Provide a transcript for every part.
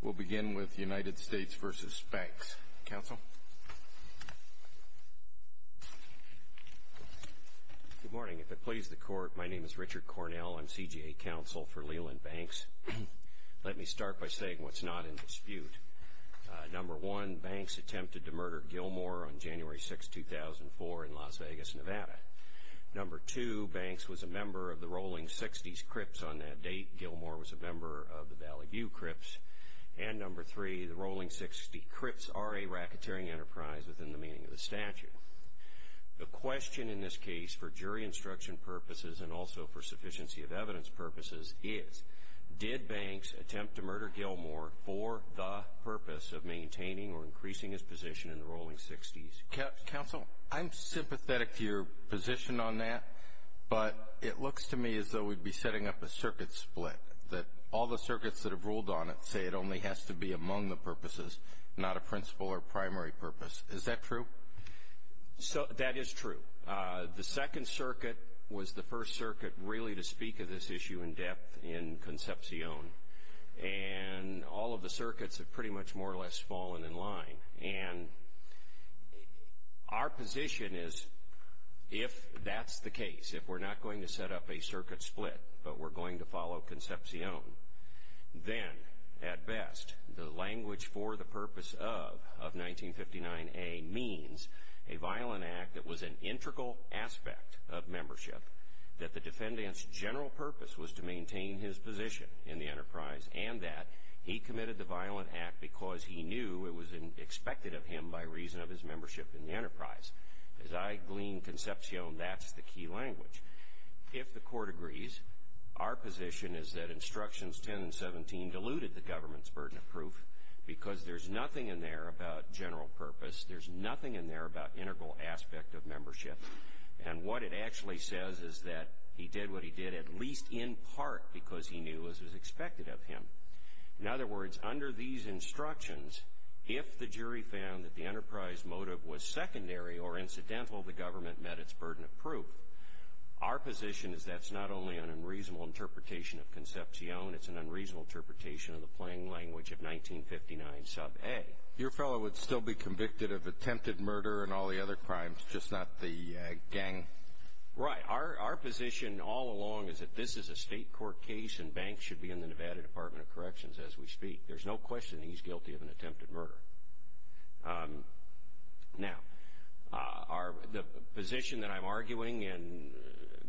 We'll begin with United States v. Banks. Counsel? Good morning. If it pleases the Court, my name is Richard Cornell. I'm CGA Counsel for Leland Banks. Let me start by saying what's not in dispute. Number one, Banks attempted to murder Gilmore on January 6, 2004, in Las Vegas, Nevada. Number two, Banks was a member of the Rolling Sixties Crips on that date. Gilmore was a member of the Valley View Crips. And number three, the Rolling Sixties Crips are a racketeering enterprise within the meaning of the statute. The question in this case for jury instruction purposes and also for sufficiency of evidence purposes is, did Banks attempt to murder Gilmore for the purpose of maintaining or increasing his position in the Rolling Sixties? Counsel, I'm sympathetic to your position on that, but it looks to me as though we'd be setting up a circuit split, that all the circuits that have ruled on it say it only has to be among the purposes, not a principal or primary purpose. Is that true? That is true. The Second Circuit was the first circuit really to speak of this issue in depth in Concepcion. And all of the circuits have pretty much more or less fallen in line. And our position is, if that's the case, if we're not going to set up a circuit split, but we're going to follow Concepcion, then, at best, the language for the purpose of 1959A means a violent act that was an integral aspect of membership, that the defendant's general purpose was to maintain his position in the enterprise, and that he committed the violent act because he knew it was expected of him by reason of his membership in the enterprise. As I gleaned Concepcion, that's the key language. If the court agrees, our position is that Instructions 10 and 17 diluted the government's burden of proof because there's nothing in there about general purpose. There's nothing in there about integral aspect of membership. And what it actually says is that he did what he did at least in part because he knew it was expected of him. In other words, under these instructions, if the jury found that the enterprise motive was secondary or incidental, the government met its burden of proof. Our position is that's not only an unreasonable interpretation of Concepcion, it's an unreasonable interpretation of the plain language of 1959A. Your fellow would still be convicted of attempted murder and all the other crimes, just not the gang. Right. Our position all along is that this is a state court case and Banks should be in the Nevada Department of Corrections as we speak. There's no question he's guilty of an attempted murder. Now, the position that I'm arguing, and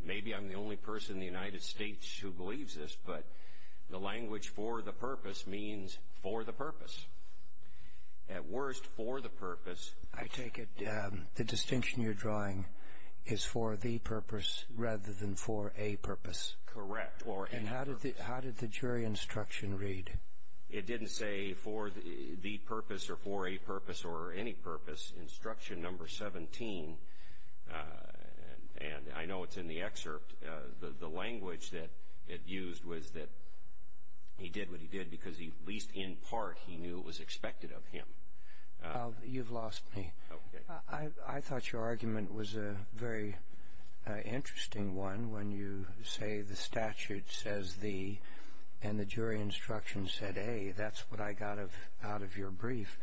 maybe I'm the only person in the United States who believes this, but the language for the purpose means for the purpose. At worst, for the purpose. I take it the distinction you're drawing is for the purpose rather than for a purpose. Correct. And how did the jury instruction read? It didn't say for the purpose or for a purpose or any purpose. Instruction number 17, and I know it's in the excerpt, the language that it used was that he did what he did because at least in part he knew it was expected of him. You've lost me. Okay. I thought your argument was a very interesting one when you say the statute says the and the jury instruction said, hey, that's what I got out of your brief.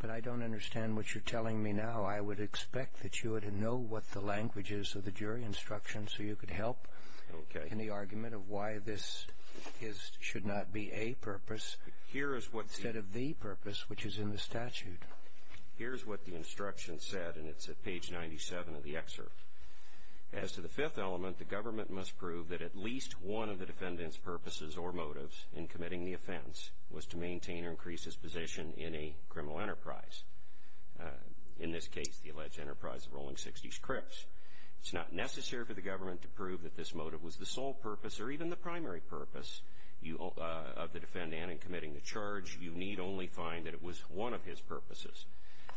But I don't understand what you're telling me now. I would expect that you would know what the language is of the jury instruction so you could help in the argument of why this should not be a purpose instead of the purpose, which is in the statute. Here's what the instruction said, and it's at page 97 of the excerpt. As to the fifth element, the government must prove that at least one of the defendant's purposes or motives in committing the offense was to maintain or increase his position in a criminal enterprise. In this case, the alleged enterprise of Rolling Sixties Crips. It's not necessary for the government to prove that this motive was the sole purpose or even the primary purpose of the defendant in committing the charge. You need only find that it was one of his purposes.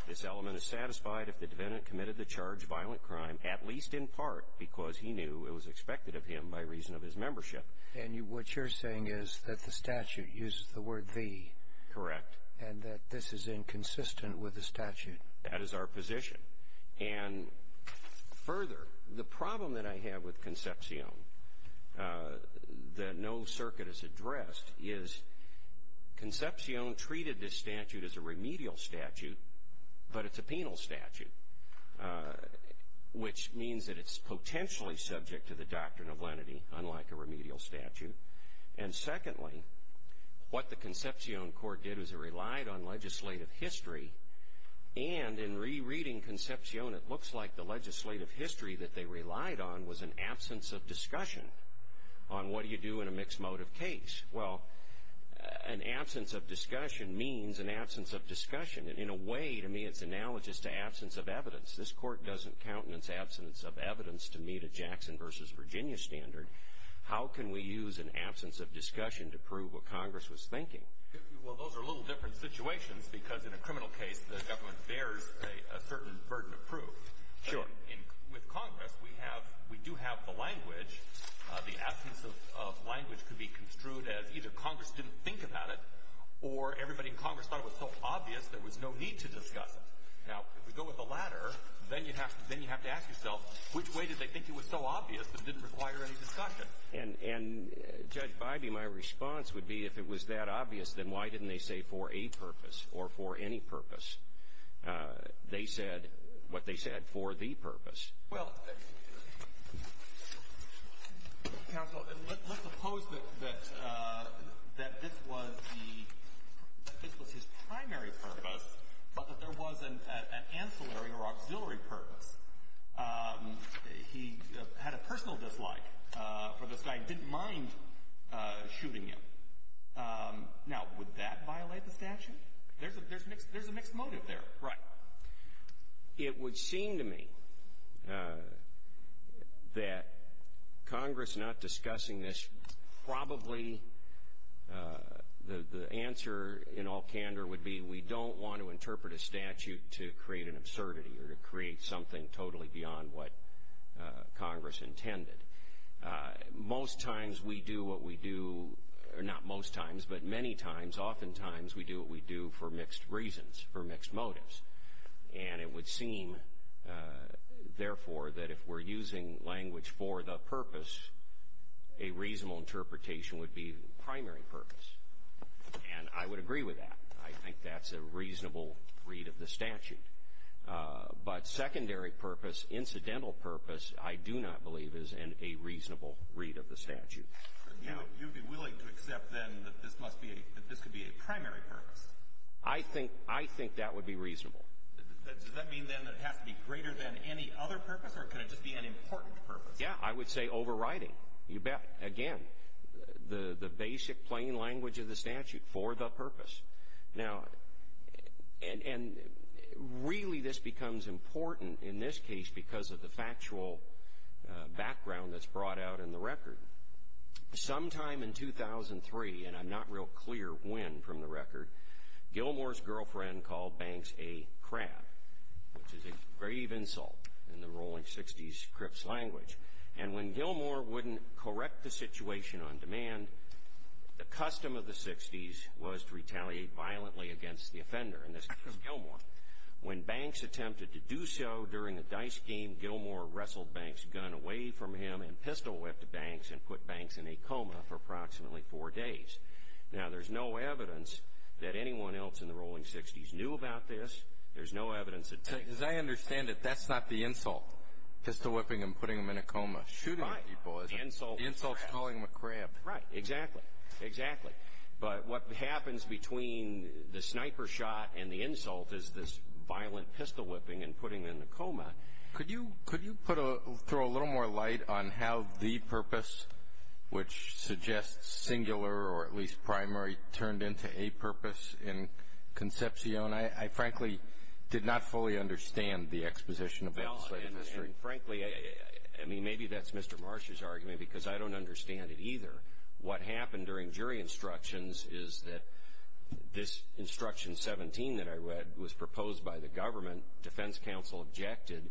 This element is satisfied if the defendant committed the charge of violent crime, at least in part because he knew it was expected of him by reason of his membership. And what you're saying is that the statute uses the word the. Correct. And that this is inconsistent with the statute. That is our position. And further, the problem that I have with Concepcion that no circuit has addressed is Concepcion treated this statute as a remedial statute, but it's a penal statute, which means that it's potentially subject to the doctrine of lenity, unlike a remedial statute. And secondly, what the Concepcion court did was it relied on legislative history. And in rereading Concepcion, it looks like the legislative history that they relied on was an absence of discussion on what do you do in a mixed motive case. Well, an absence of discussion means an absence of discussion. And in a way, to me, it's analogous to absence of evidence. This court doesn't countenance absence of evidence to meet a Jackson versus Virginia standard. How can we use an absence of discussion to prove what Congress was thinking? Well, those are a little different situations because in a criminal case, the government bears a certain burden of proof. Sure. With Congress, we do have the language. The absence of language could be construed as either Congress didn't think about it or everybody in Congress thought it was so obvious there was no need to discuss it. Now, if we go with the latter, then you have to ask yourself which way did they think it was so obvious it didn't require any discussion. And, Judge Bybee, my response would be if it was that obvious, then why didn't they say for a purpose or for any purpose? They said what they said for the purpose. Well, counsel, let's suppose that this was his primary purpose, but that there was an ancillary or auxiliary purpose. He had a personal dislike for this guy and didn't mind shooting him. Now, would that violate the statute? There's a mixed motive there. Right. It would seem to me that Congress not discussing this, probably the answer in all candor would be we don't want to interpret a statute to create an absurdity or to create something totally beyond what Congress intended. Most times we do what we do, or not most times, but many times, oftentimes, we do what we do for mixed reasons, for mixed motives. And it would seem, therefore, that if we're using language for the purpose, a reasonable interpretation would be primary purpose. And I would agree with that. I think that's a reasonable read of the statute. But secondary purpose, incidental purpose, I do not believe is a reasonable read of the statute. You would be willing to accept, then, that this must be a — that this could be a primary purpose? I think that would be reasonable. Does that mean, then, that it has to be greater than any other purpose, or could it just be an important purpose? Yeah. I would say overriding. You bet. Again, the basic plain language of the statute, for the purpose. Now, and really this becomes important in this case because of the factual background that's brought out in the record. Sometime in 2003, and I'm not real clear when from the record, Gilmour's girlfriend called Banks a crab, which is a grave insult in the rolling 60s Crips language. And when Gilmour wouldn't correct the situation on demand, the custom of the 60s was to retaliate violently against the offender, and this was Gilmour. When Banks attempted to do so during a dice game, Gilmour wrestled Banks' gun away from him and pistol-whipped Banks and put Banks in a coma for approximately four days. Now, there's no evidence that anyone else in the rolling 60s knew about this. There's no evidence that — As I understand it, that's not the insult, pistol-whipping and putting him in a coma. Shooting people is. Right. The insult is a crab. The insult's calling him a crab. Right. Exactly. But what happens between the sniper shot and the insult is this violent pistol-whipping and putting him in a coma. Could you put a — throw a little more light on how the purpose, which suggests singular or at least primary, turned into a purpose in Concepcion? I frankly did not fully understand the exposition about the slave industry. And, frankly, I mean, maybe that's Mr. Marsh's argument because I don't understand it either. What happened during jury instructions is that this Instruction 17 that I read was proposed by the government. Defense counsel objected.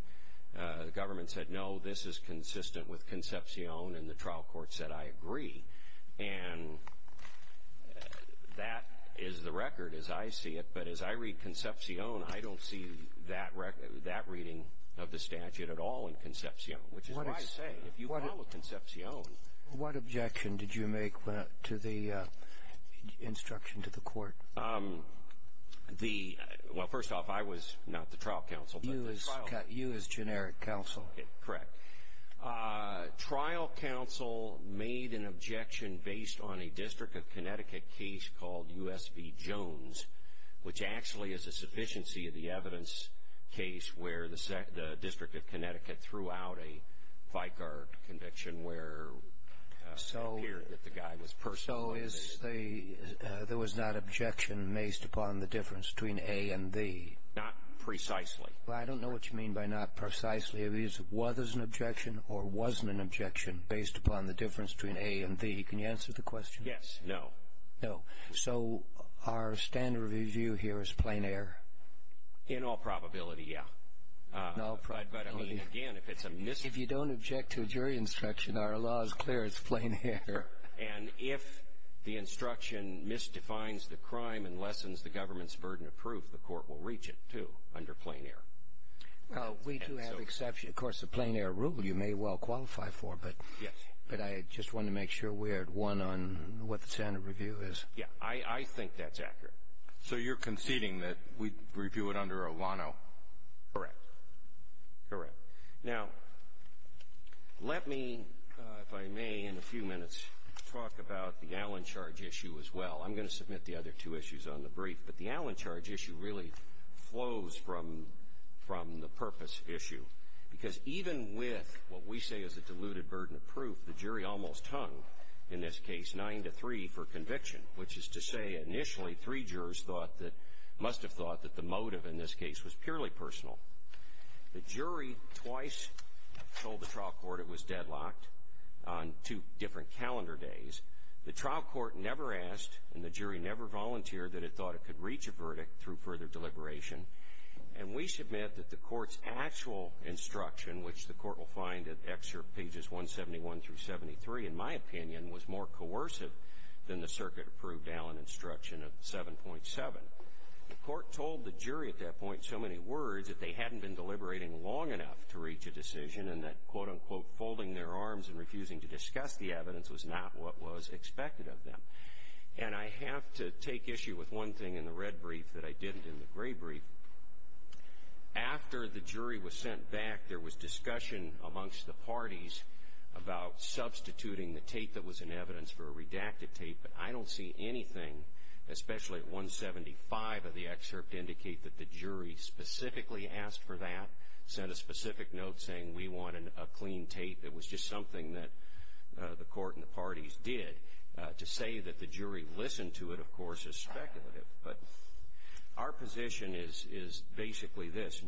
The government said, no, this is consistent with Concepcion, and the trial court said, I agree. And that is the record as I see it. But as I read Concepcion, I don't see that reading of the statute at all in Concepcion, which is why I say if you follow Concepcion — What objection did you make to the instruction to the court? The — well, first off, I was not the trial counsel, but the trial — You as generic counsel. Correct. Trial counsel made an objection based on a District of Connecticut case called U.S. v. Jones, which actually is a sufficiency of the evidence case where the District of Connecticut threw out a Vicar conviction where it appeared that the guy was personally — So is the — there was not objection based upon the difference between a and the? Not precisely. Well, I don't know what you mean by not precisely. It was an objection or wasn't an objection based upon the difference between a and the. Can you answer the question? Yes. No. No. So our standard review here is plain air? In all probability, yeah. But, I mean, again, if it's a — If you don't object to a jury instruction, our law is clear. It's plain air. And if the instruction misdefines the crime and lessens the government's burden of proof, the court will reach it, too, under plain air. We do have exceptions. Of course, the plain air rule you may well qualify for, but — Yes. But I just wanted to make sure we're at one on what the standard review is. Yeah. I think that's accurate. So you're conceding that we review it under a lano? Correct. Correct. Now, let me, if I may, in a few minutes, talk about the Allen charge issue as well. I'm going to submit the other two issues on the brief. But the Allen charge issue really flows from the purpose issue, because even with what we say is a diluted burden of proof, the jury almost hung, in this case, 9-3 for conviction, which is to say, initially, three jurors thought that — must have thought that the motive in this case was purely personal. The jury twice told the trial court it was deadlocked on two different calendar days. The trial court never asked, and the jury never volunteered, that it thought it could reach a verdict through further deliberation. And we submit that the court's actual instruction, which the court will find in excerpt pages 171 through 73, in my opinion, was more coercive than the circuit-approved Allen instruction of 7.7. The court told the jury at that point so many words that they hadn't been deliberating long enough to reach a decision and that, quote-unquote, folding their arms and refusing to discuss the evidence was not what was expected of them. And I have to take issue with one thing in the red brief that I didn't in the gray brief. After the jury was sent back, there was discussion amongst the parties about substituting the tape that was in evidence for a redacted tape. But I don't see anything, especially at 175 of the excerpt, indicate that the jury specifically asked for that, sent a specific note saying we wanted a clean tape. It was just something that the court and the parties did. To say that the jury listened to it, of course, is speculative. But our position is basically this.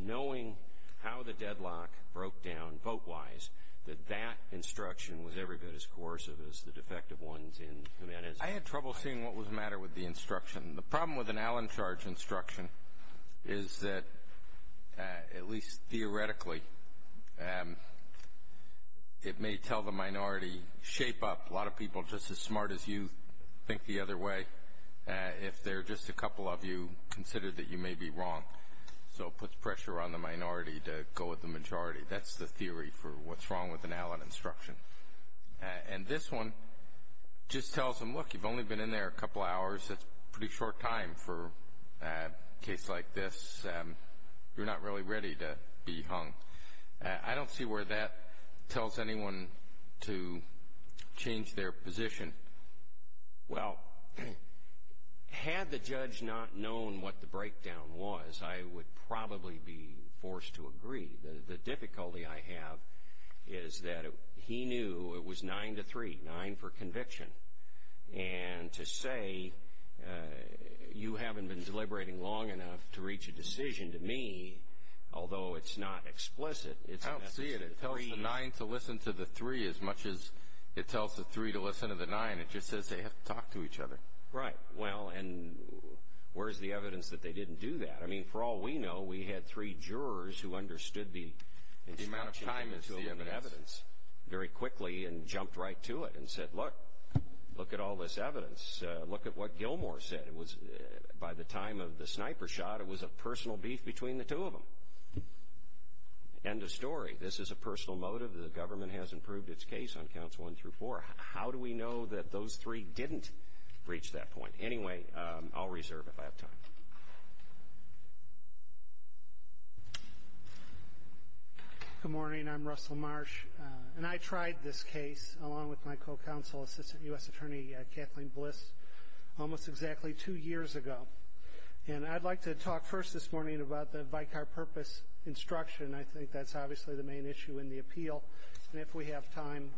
I had trouble seeing what was the matter with the instruction. The problem with an Allen charge instruction is that, at least theoretically, it may tell the minority, shape up a lot of people just as smart as you, think the other way. If they're just a couple of you, consider that you may be wrong. So it puts pressure on the minority to go with the majority. That's the theory for what's wrong with an Allen instruction. And this one just tells them, look, you've only been in there a couple of hours. That's a pretty short time for a case like this. You're not really ready to be hung. I don't see where that tells anyone to change their position. Well, had the judge not known what the breakdown was, I would probably be forced to agree. The difficulty I have is that he knew it was nine to three, nine for conviction. And to say you haven't been deliberating long enough to reach a decision to me, although it's not explicit, it's a message to the three. I don't see it. It tells the nine to listen to the three as much as it tells the three to listen to the nine. It just says they have to talk to each other. Right. Well, and where's the evidence that they didn't do that? I mean, for all we know, we had three jurors who understood the amount of time and evidence very quickly and jumped right to it and said, look, look at all this evidence. Look at what Gilmore said. It was by the time of the sniper shot. It was a personal beef between the two of them. End of story. This is a personal motive. The government has improved its case on counts one through four. How do we know that those three didn't reach that point? Anyway, I'll reserve if I have time. Good morning. I'm Russell Marsh. And I tried this case, along with my co-counsel, Assistant U.S. Attorney Kathleen Bliss, almost exactly two years ago. And I'd like to talk first this morning about the vicar purpose instruction. And if we have time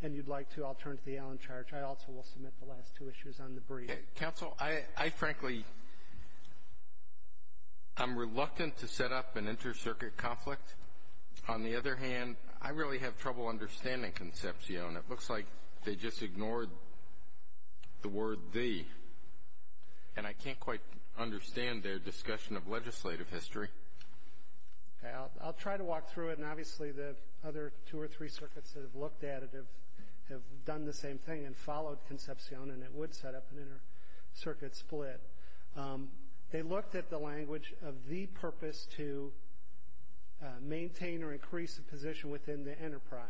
and you'd like to, I'll turn to the Allen charge. I also will submit the last two issues on the brief. Counsel, I frankly am reluctant to set up an inter-circuit conflict. On the other hand, I really have trouble understanding Concepcion. It looks like they just ignored the word the. And I can't quite understand their discussion of legislative history. I'll try to walk through it. And obviously the other two or three circuits that have looked at it have done the same thing and followed Concepcion and it would set up an inter-circuit split. They looked at the language of the purpose to maintain or increase the position within the enterprise.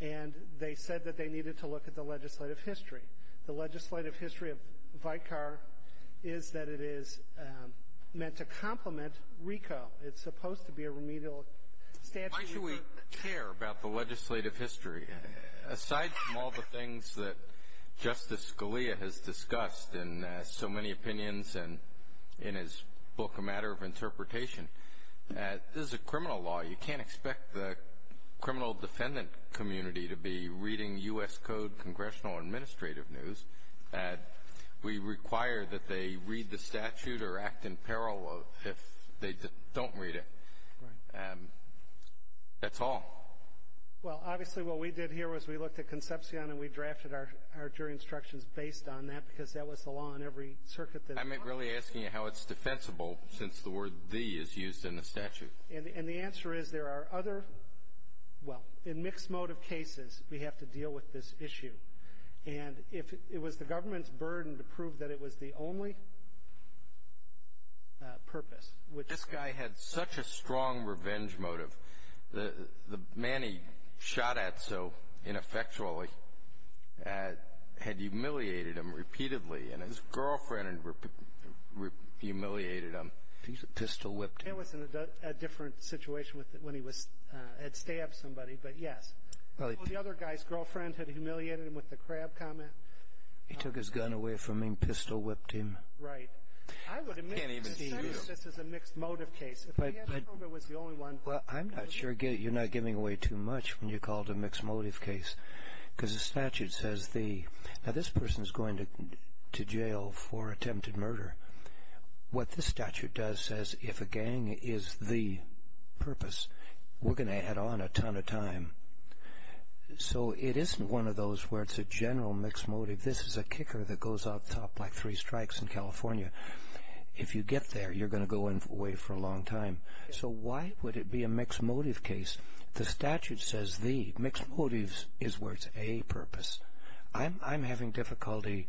And they said that they needed to look at the legislative history. The legislative history of vicar is that it is meant to complement RICO. It's supposed to be a remedial statute. Why should we care about the legislative history? Aside from all the things that Justice Scalia has discussed in so many opinions and in his book, A Matter of Interpretation, this is a criminal law. You can't expect the criminal defendant community to be reading U.S. Code congressional administrative news. We require that they read the statute or act in peril if they don't read it. That's all. Well, obviously what we did here was we looked at Concepcion and we drafted our jury instructions based on that because that was the law in every circuit. I'm really asking you how it's defensible since the word the is used in the statute. And the answer is there are other, well, in mixed motive cases, we have to deal with this issue. And it was the government's burden to prove that it was the only purpose. This guy had such a strong revenge motive. The man he shot at so ineffectually had humiliated him repeatedly, and his girlfriend humiliated him. It was a different situation when he had stabbed somebody, but yes. Well, the other guy's girlfriend had humiliated him with the crab comment. He took his gun away from him, pistol whipped him. Right. I can't even see you. I would admit this is a mixed motive case. If they had to prove it was the only one. Well, I'm not sure you're not giving away too much when you call it a mixed motive case because the statute says the, now this person is going to jail for attempted murder. What this statute does says if a gang is the purpose, we're going to add on a ton of time. So it isn't one of those where it's a general mixed motive. This is a kicker that goes out the top like three strikes in California. If you get there, you're going to go away for a long time. So why would it be a mixed motive case? The statute says the, mixed motives is where it's a purpose. I'm having difficulty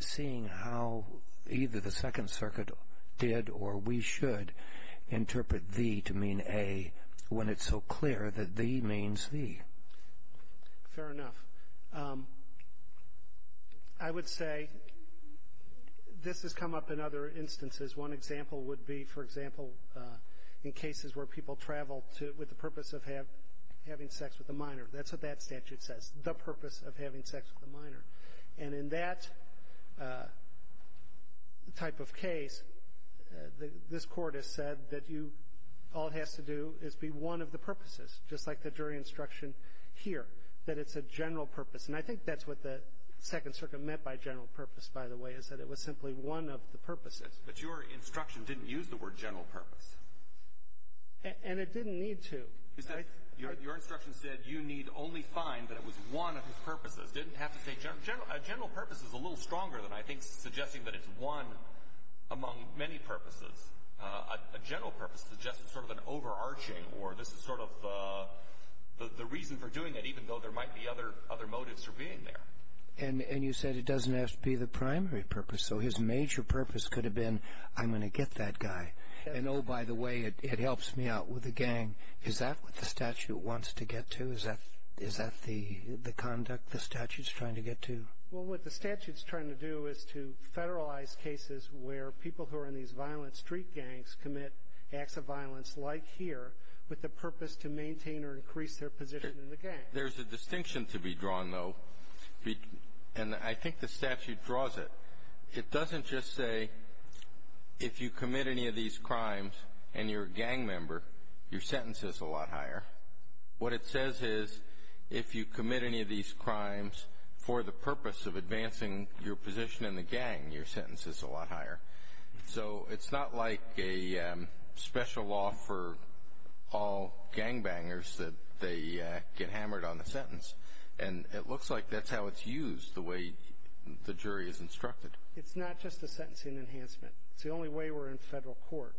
seeing how either the Second Circuit did or we should interpret the to mean a when it's so clear that the means the. Fair enough. I would say this has come up in other instances. One example would be, for example, in cases where people travel with the purpose of having sex with a minor. That's what that statute says, the purpose of having sex with a minor. And in that type of case, this Court has said that you, all it has to do is be one of the purposes, just like the jury instruction here, that it's a general purpose. And I think that's what the Second Circuit meant by general purpose, by the way, is that it was simply one of the purposes. But your instruction didn't use the word general purpose. And it didn't need to. Your instruction said you need only find that it was one of his purposes. It didn't have to say general. A general purpose is a little stronger than I think suggesting that it's one among many purposes. A general purpose suggests it's sort of an overarching or this is sort of the reason for doing it even though there might be other motives for being there. And you said it doesn't have to be the primary purpose. So his major purpose could have been I'm going to get that guy. And, oh, by the way, it helps me out with the gang. Is that what the statute wants to get to? Is that the conduct the statute's trying to get to? Well, what the statute's trying to do is to federalize cases where people who are in these violent street gangs commit acts of violence like here with the purpose to maintain or increase their position in the gang. There's a distinction to be drawn, though, and I think the statute draws it. It doesn't just say if you commit any of these crimes and you're a gang member, your sentence is a lot higher. What it says is if you commit any of these crimes for the purpose of advancing your position in the gang, your sentence is a lot higher. So it's not like a special law for all gangbangers that they get hammered on the sentence. And it looks like that's how it's used, the way the jury is instructed. It's not just a sentencing enhancement. It's the only way we're in federal court.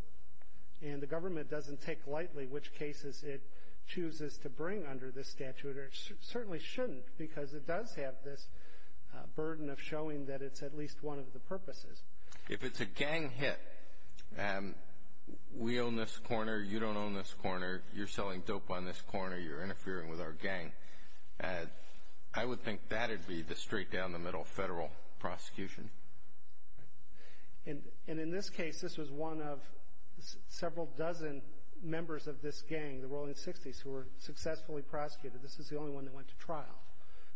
And the government doesn't take lightly which cases it chooses to bring under this statute, or it certainly shouldn't because it does have this burden of showing that it's at least one of the purposes. If it's a gang hit, we own this corner, you don't own this corner, you're selling dope on this corner, you're interfering with our gang, I would think that would be the straight down the middle federal prosecution. And in this case, this was one of several dozen members of this gang, the Rolling Sixties, who were successfully prosecuted. This is the only one that went to trial,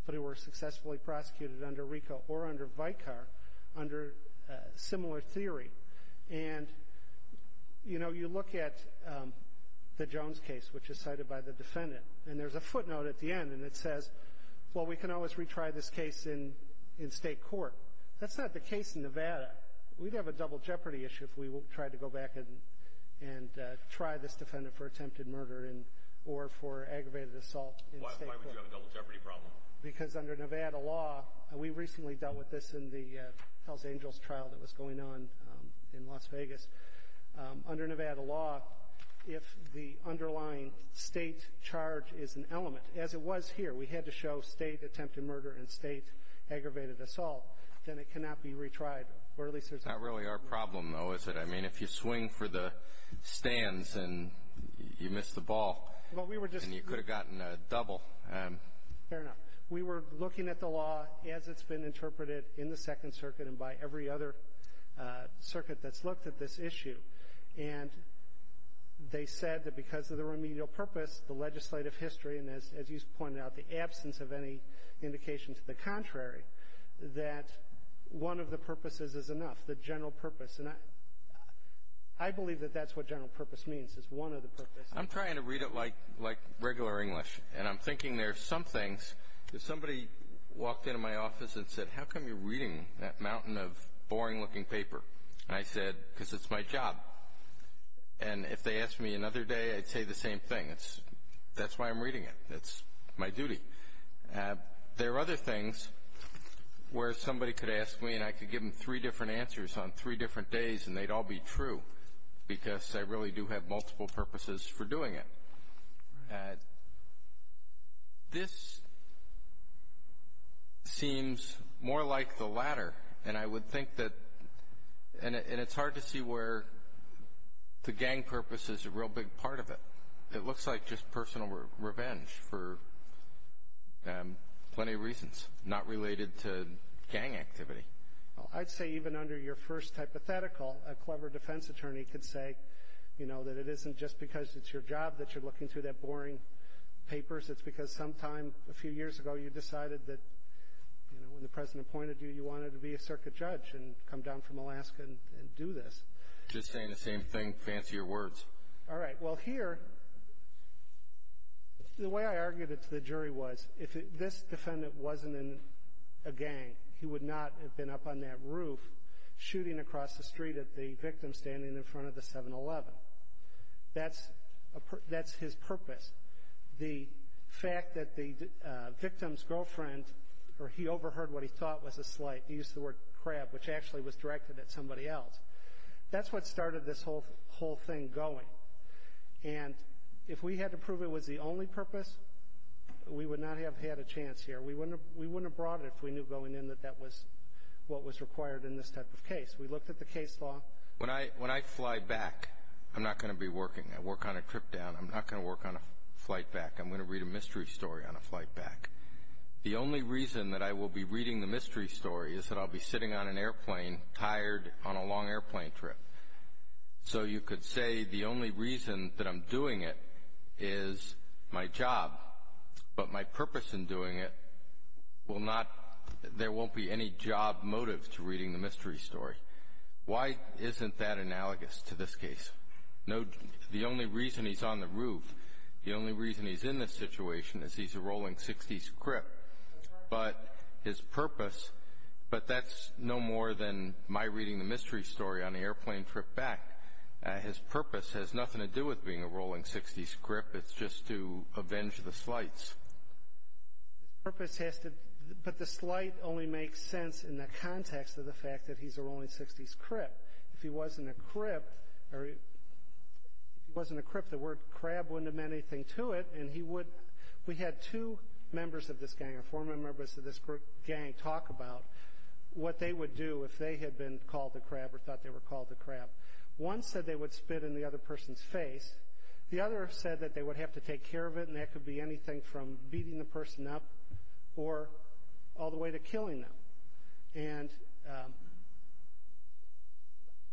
but who were successfully prosecuted under RICO or under Vicar under similar theory. And, you know, you look at the Jones case, which is cited by the defendant, and there's a footnote at the end, and it says, well, we can always retry this case in state court. That's not the case in Nevada. We'd have a double jeopardy issue if we tried to go back and try this defendant for attempted murder or for aggravated assault in state court. Why would you have a double jeopardy problem? Because under Nevada law, we recently dealt with this in the Hells Angels trial that was going on in Las Vegas. Under Nevada law, if the underlying state charge is an element, as it was here, we had to show state attempted murder and state aggravated assault, then it cannot be retried. Not really our problem, though, is it? I mean, if you swing for the stands and you miss the ball, then you could have gotten a double. Fair enough. We were looking at the law as it's been interpreted in the Second Circuit and by every other circuit that's looked at this issue. And they said that because of the remedial purpose, the legislative history, and as you pointed out, the absence of any indication to the contrary, that one of the purposes is enough, the general purpose. And I believe that that's what general purpose means, is one of the purposes. I'm trying to read it like regular English, and I'm thinking there's some things. If somebody walked into my office and said, how come you're reading that mountain of boring-looking paper? And I said, because it's my job. And if they asked me another day, I'd say the same thing. That's why I'm reading it. It's my duty. There are other things where somebody could ask me and I could give them three different answers on three different days and they'd all be true, because I really do have multiple purposes for doing it. This seems more like the latter, and I would think that – and it's hard to see where the gang purpose is a real big part of it. It looks like just personal revenge for plenty of reasons not related to gang activity. I'd say even under your first hypothetical, a clever defense attorney could say, you know, that it isn't just because it's your job that you're looking through that boring papers. It's because sometime a few years ago you decided that, you know, when the President appointed you, you wanted to be a circuit judge and come down from Alaska and do this. Just saying the same thing, fancier words. All right. Well, here, the way I argued it to the jury was if this defendant wasn't in a gang, he would not have been up on that roof shooting across the street at the victim standing in front of the 7-Eleven. That's his purpose. The fact that the victim's girlfriend – or he overheard what he thought was a slight. He used the word crab, which actually was directed at somebody else. That's what started this whole thing going. And if we had to prove it was the only purpose, we would not have had a chance here. We wouldn't have brought it if we knew going in that that was what was required in this type of case. We looked at the case law. When I fly back, I'm not going to be working. I work on a trip down. I'm not going to work on a flight back. I'm going to read a mystery story on a flight back. The only reason that I will be reading the mystery story is that I'll be sitting on an airplane, tired, on a long airplane trip. So you could say the only reason that I'm doing it is my job. But my purpose in doing it will not – there won't be any job motive to reading the mystery story. Why isn't that analogous to this case? The only reason he's on the roof, the only reason he's in this situation is he's a rolling 60s crip. But his purpose – but that's no more than my reading the mystery story on the airplane trip back. His purpose has nothing to do with being a rolling 60s crip. It's just to avenge the slights. His purpose has to – but the slight only makes sense in the context of the fact that he's a rolling 60s crip. If he wasn't a crip, the word crab wouldn't have meant anything to it. And he would – we had two members of this gang or four members of this gang talk about what they would do if they had been called a crab or thought they were called a crab. One said they would spit in the other person's face. The other said that they would have to take care of it, and that could be anything from beating the person up or all the way to killing them. And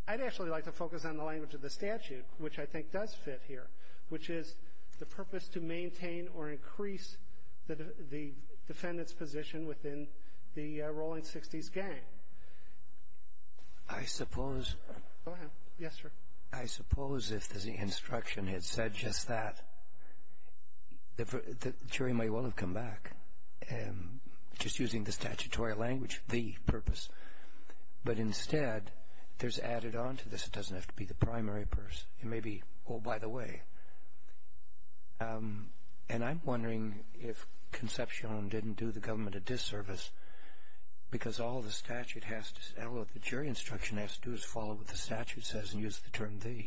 I'd actually like to focus on the language of the statute, which I think does fit here, which is the purpose to maintain or increase the defendant's position within the rolling 60s gang. I suppose – Go ahead. Yes, sir. I suppose if the instruction had said just that, the jury may well have come back, just using the statutory language, the purpose. But instead, there's added on to this. It doesn't have to be the primary person. It may be, oh, by the way. And I'm wondering if Concepcion didn't do the government a disservice, because all the statute has to – well, what the jury instruction has to do is follow what the statute says and use the term the.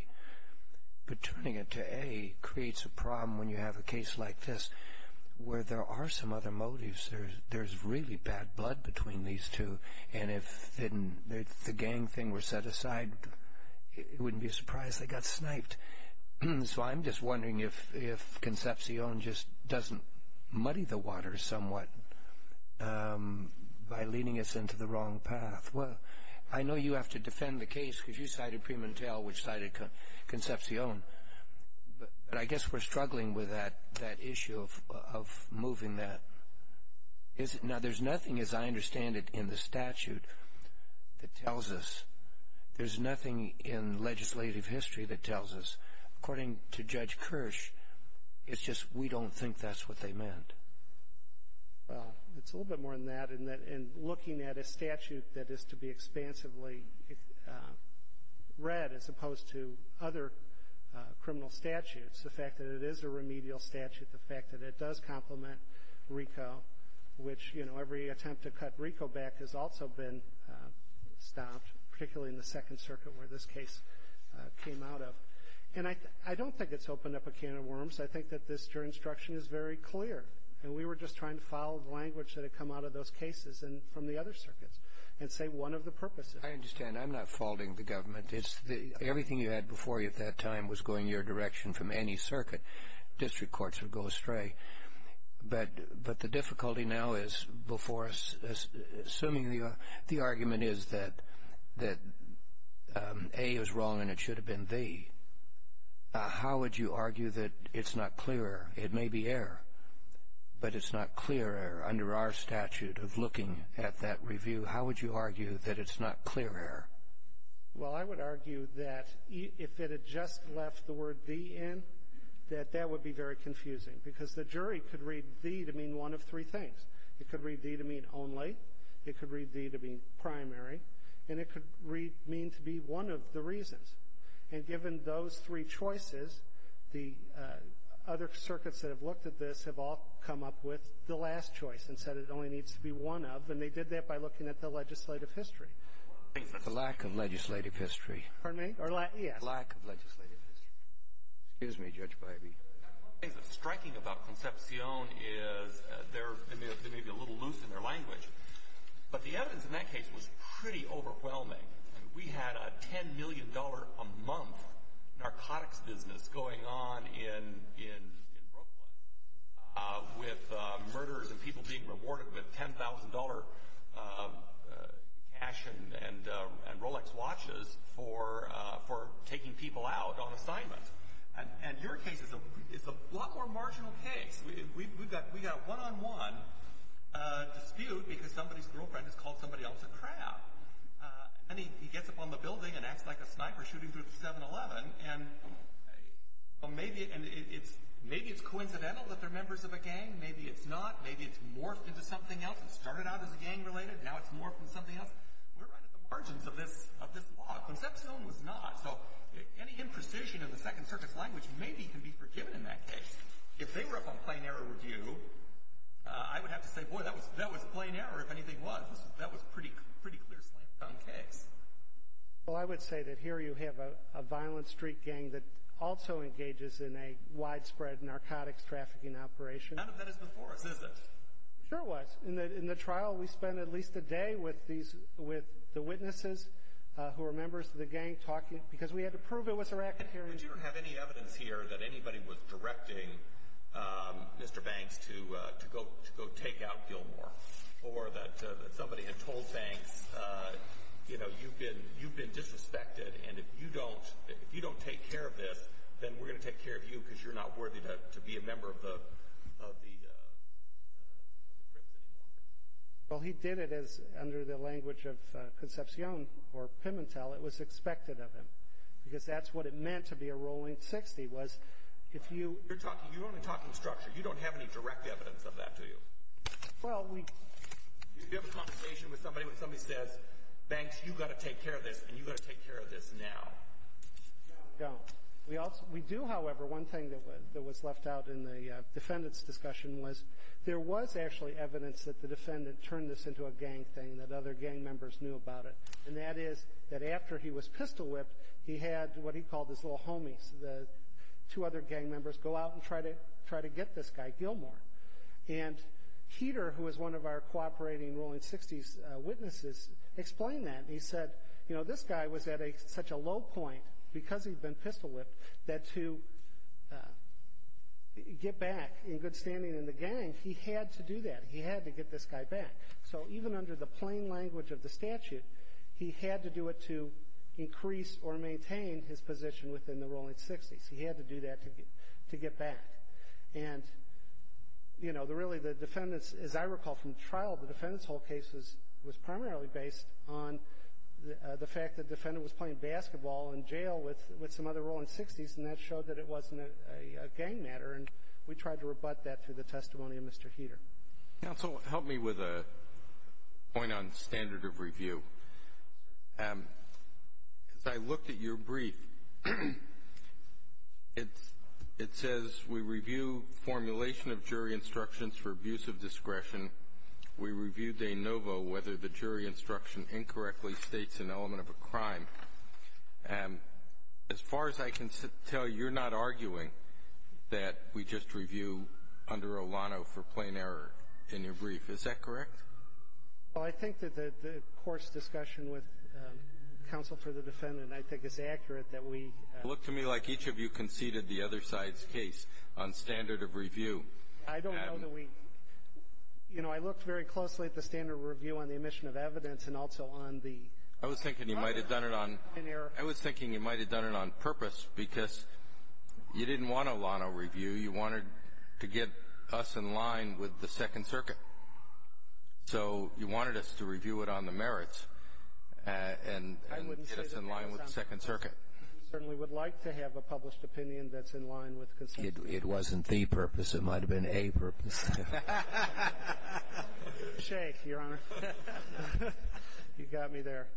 But turning it to a creates a problem when you have a case like this where there are some other motives. There's really bad blood between these two. And if the gang thing were set aside, it wouldn't be a surprise they got sniped. So I'm just wondering if Concepcion just doesn't muddy the water somewhat by leading us into the wrong path. Well, I know you have to defend the case because you cited Primontel, which cited Concepcion. But I guess we're struggling with that issue of moving that. Now, there's nothing, as I understand it, in the statute that tells us. There's nothing in legislative history that tells us. According to Judge Kirsch, it's just we don't think that's what they meant. Well, it's a little bit more than that in that in looking at a statute that is to be expansively read as opposed to other criminal statutes, the fact that it is a remedial statute, the fact that it does complement RICO, which every attempt to cut RICO back has also been stopped, particularly in the Second Circuit where this case came out of. And I don't think it's opened up a can of worms. I think that this jury instruction is very clear. And we were just trying to follow the language that had come out of those cases and from the other circuits and say one of the purposes. I understand. I'm not faulting the government. Everything you had before you at that time was going your direction from any circuit. District courts would go astray. But the difficulty now is before us, assuming the argument is that A is wrong and it should have been B, how would you argue that it's not clear? It may be error, but it's not clear error under our statute of looking at that review. How would you argue that it's not clear error? Well, I would argue that if it had just left the word D in, that that would be very confusing because the jury could read D to mean one of three things. It could read D to mean only. It could read D to mean primary. And it could read mean to be one of the reasons. And given those three choices, the other circuits that have looked at this have all come up with the last choice and said it only needs to be one of, and they did that by looking at the legislative history. The lack of legislative history. Pardon me? Yeah. The lack of legislative history. Excuse me, Judge Biby. One of the things that's striking about Concepcion is they may be a little loose in their language, but the evidence in that case was pretty overwhelming. We had a $10 million a month narcotics business going on in Brooklyn with murders and people being rewarded with $10,000 cash and Rolex watches for taking people out on assignments. And your case is a lot more marginal case. We've got one-on-one dispute because somebody's girlfriend has called somebody else a crab. And he gets up on the building and acts like a sniper shooting through the 7-Eleven. And maybe it's coincidental that they're members of a gang. Maybe it's not. Maybe it's morphed into something else. It started out as a gang-related. Now it's morphed into something else. We're right at the margins of this law. Concepcion was not. So any imprecision of the Second Circuit's language maybe can be forgiven in that case. If they were up on plain error review, I would have to say, boy, that was plain error if anything was. That was a pretty clear slam-dunk case. Well, I would say that here you have a violent street gang that also engages in a widespread narcotics trafficking operation. None of that is before us, is it? Sure it was. In the trial, we spent at least a day with the witnesses who were members of the gang talking because we had to prove it was a racket hearing. But you don't have any evidence here that anybody was directing Mr. Banks to go take out Gilmore or that somebody had told Banks, you know, you've been disrespected, and if you don't take care of this, then we're going to take care of you because you're not worthy to be a member of the Crips anymore. Well, he did it as, under the language of Concepcion or Pimentel, it was expected of him because that's what it meant to be a rolling 60 was if you— You're only talking structure. You don't have any direct evidence of that, do you? Well, we— You have a conversation with somebody when somebody says, Banks, you've got to take care of this, and you've got to take care of this now. No, we don't. We do, however, one thing that was left out in the defendant's discussion was there was actually evidence that the defendant turned this into a gang thing, that other gang members knew about it, and that is that after he was pistol-whipped, he had what he called his little homies, the two other gang members, go out and try to get this guy, Gilmore. And Peter, who was one of our cooperating rolling 60s witnesses, explained that. He said, you know, this guy was at such a low point because he'd been pistol-whipped that to get back in good standing in the gang, he had to do that. He had to get this guy back. So even under the plain language of the statute, he had to do it to increase or maintain his position within the rolling 60s. He had to do that to get back. And, you know, really the defendants, as I recall from trial, the defendant's whole case was primarily based on the fact that the defendant was playing basketball in jail with some other rolling 60s, and that showed that it wasn't a gang matter. And we tried to rebut that through the testimony of Mr. Heeter. Counsel, help me with a point on standard of review. As I looked at your brief, it says we review formulation of jury instructions for abuse of discretion. We reviewed de novo whether the jury instruction incorrectly states an element of a crime. As far as I can tell, you're not arguing that we just review under Olano for plain error in your brief. Is that correct? Well, I think that the court's discussion with counsel for the defendant, I think, is accurate that we ---- It looked to me like each of you conceded the other side's case on standard of review. I don't know that we ---- You know, I looked very closely at the standard of review on the omission of evidence and also on the ---- I was thinking you might have done it on purpose because you didn't want Olano review. You wanted to get us in line with the Second Circuit. So you wanted us to review it on the merits and get us in line with the Second Circuit. I certainly would like to have a published opinion that's in line with consensus. It wasn't the purpose. It might have been a purpose. Shea, Your Honor. You got me there.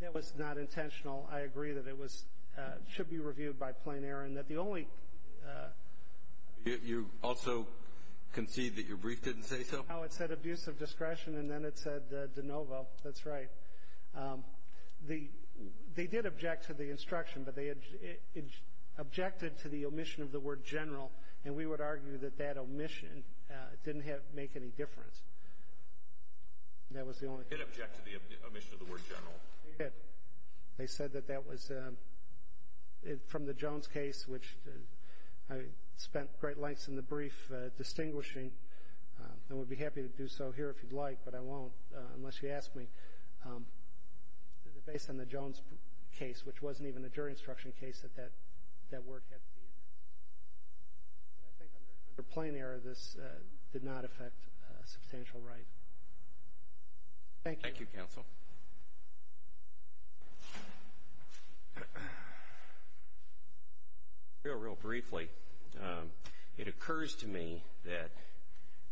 That was not intentional. I agree that it was ---- should be reviewed by plain error and that the only ---- You also concede that your brief didn't say so? No, it said abuse of discretion and then it said de novo. That's right. They did object to the instruction, but they objected to the omission of the word general, and we would argue that that omission didn't make any difference. That was the only ---- They did object to the omission of the word general. They did. They said that that was from the Jones case, which I spent great lengths in the brief distinguishing and would be happy to do so here if you'd like, but I won't unless you ask me, based on the Jones case, which wasn't even a jury instruction case that that word had to be in there. But I think under plain error, this did not affect substantial right. Thank you. Thank you, counsel. Real briefly, it occurs to me that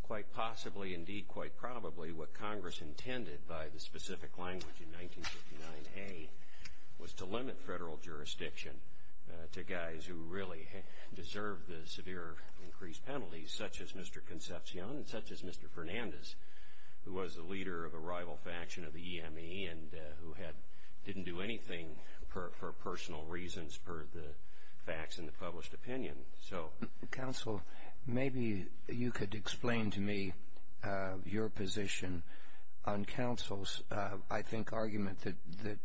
quite possibly, indeed quite probably, what Congress intended by the specific language in 1959A was to limit federal jurisdiction to guys who really deserved the severe increased penalties, such as Mr. Concepcion and such as Mr. Fernandez, who was the leader of a rival faction of the EME and who didn't do anything for personal reasons per the facts in the published opinion. Counsel, maybe you could explain to me your position on counsel's, I think, argument that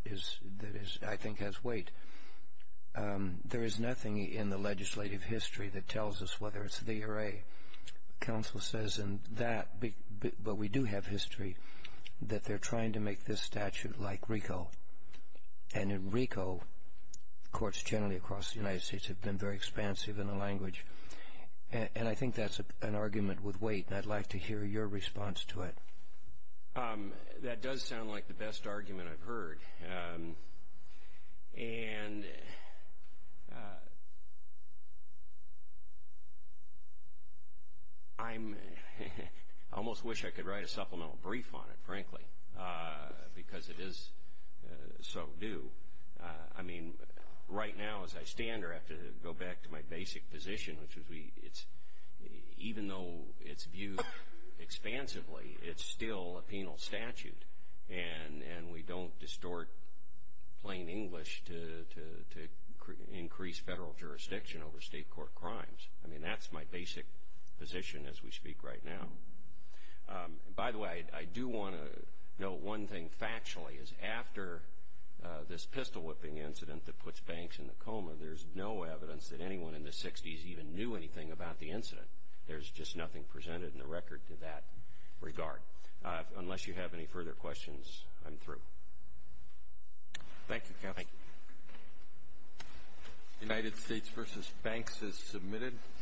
I think has weight. There is nothing in the legislative history that tells us whether it's the or a. Counsel says in that, but we do have history, that they're trying to make this statute like RICO, and in RICO, courts generally across the United States have been very expansive in the language. And I think that's an argument with weight, and I'd like to hear your response to it. That does sound like the best argument I've heard, and I almost wish I could write a supplemental brief on it, frankly, because it is so due. I mean, right now, as I stand here, I have to go back to my basic position, which is even though it's viewed expansively, it's still a penal statute. And we don't distort plain English to increase federal jurisdiction over state court crimes. I mean, that's my basic position as we speak right now. By the way, I do want to note one thing factually, is after this pistol whipping incident that puts Banks in the coma, there's no evidence that anyone in the 60s even knew anything about the incident. There's just nothing presented in the record to that regard. Unless you have any further questions, I'm through. Thank you, counsel. Thank you. United States versus Banks is submitted.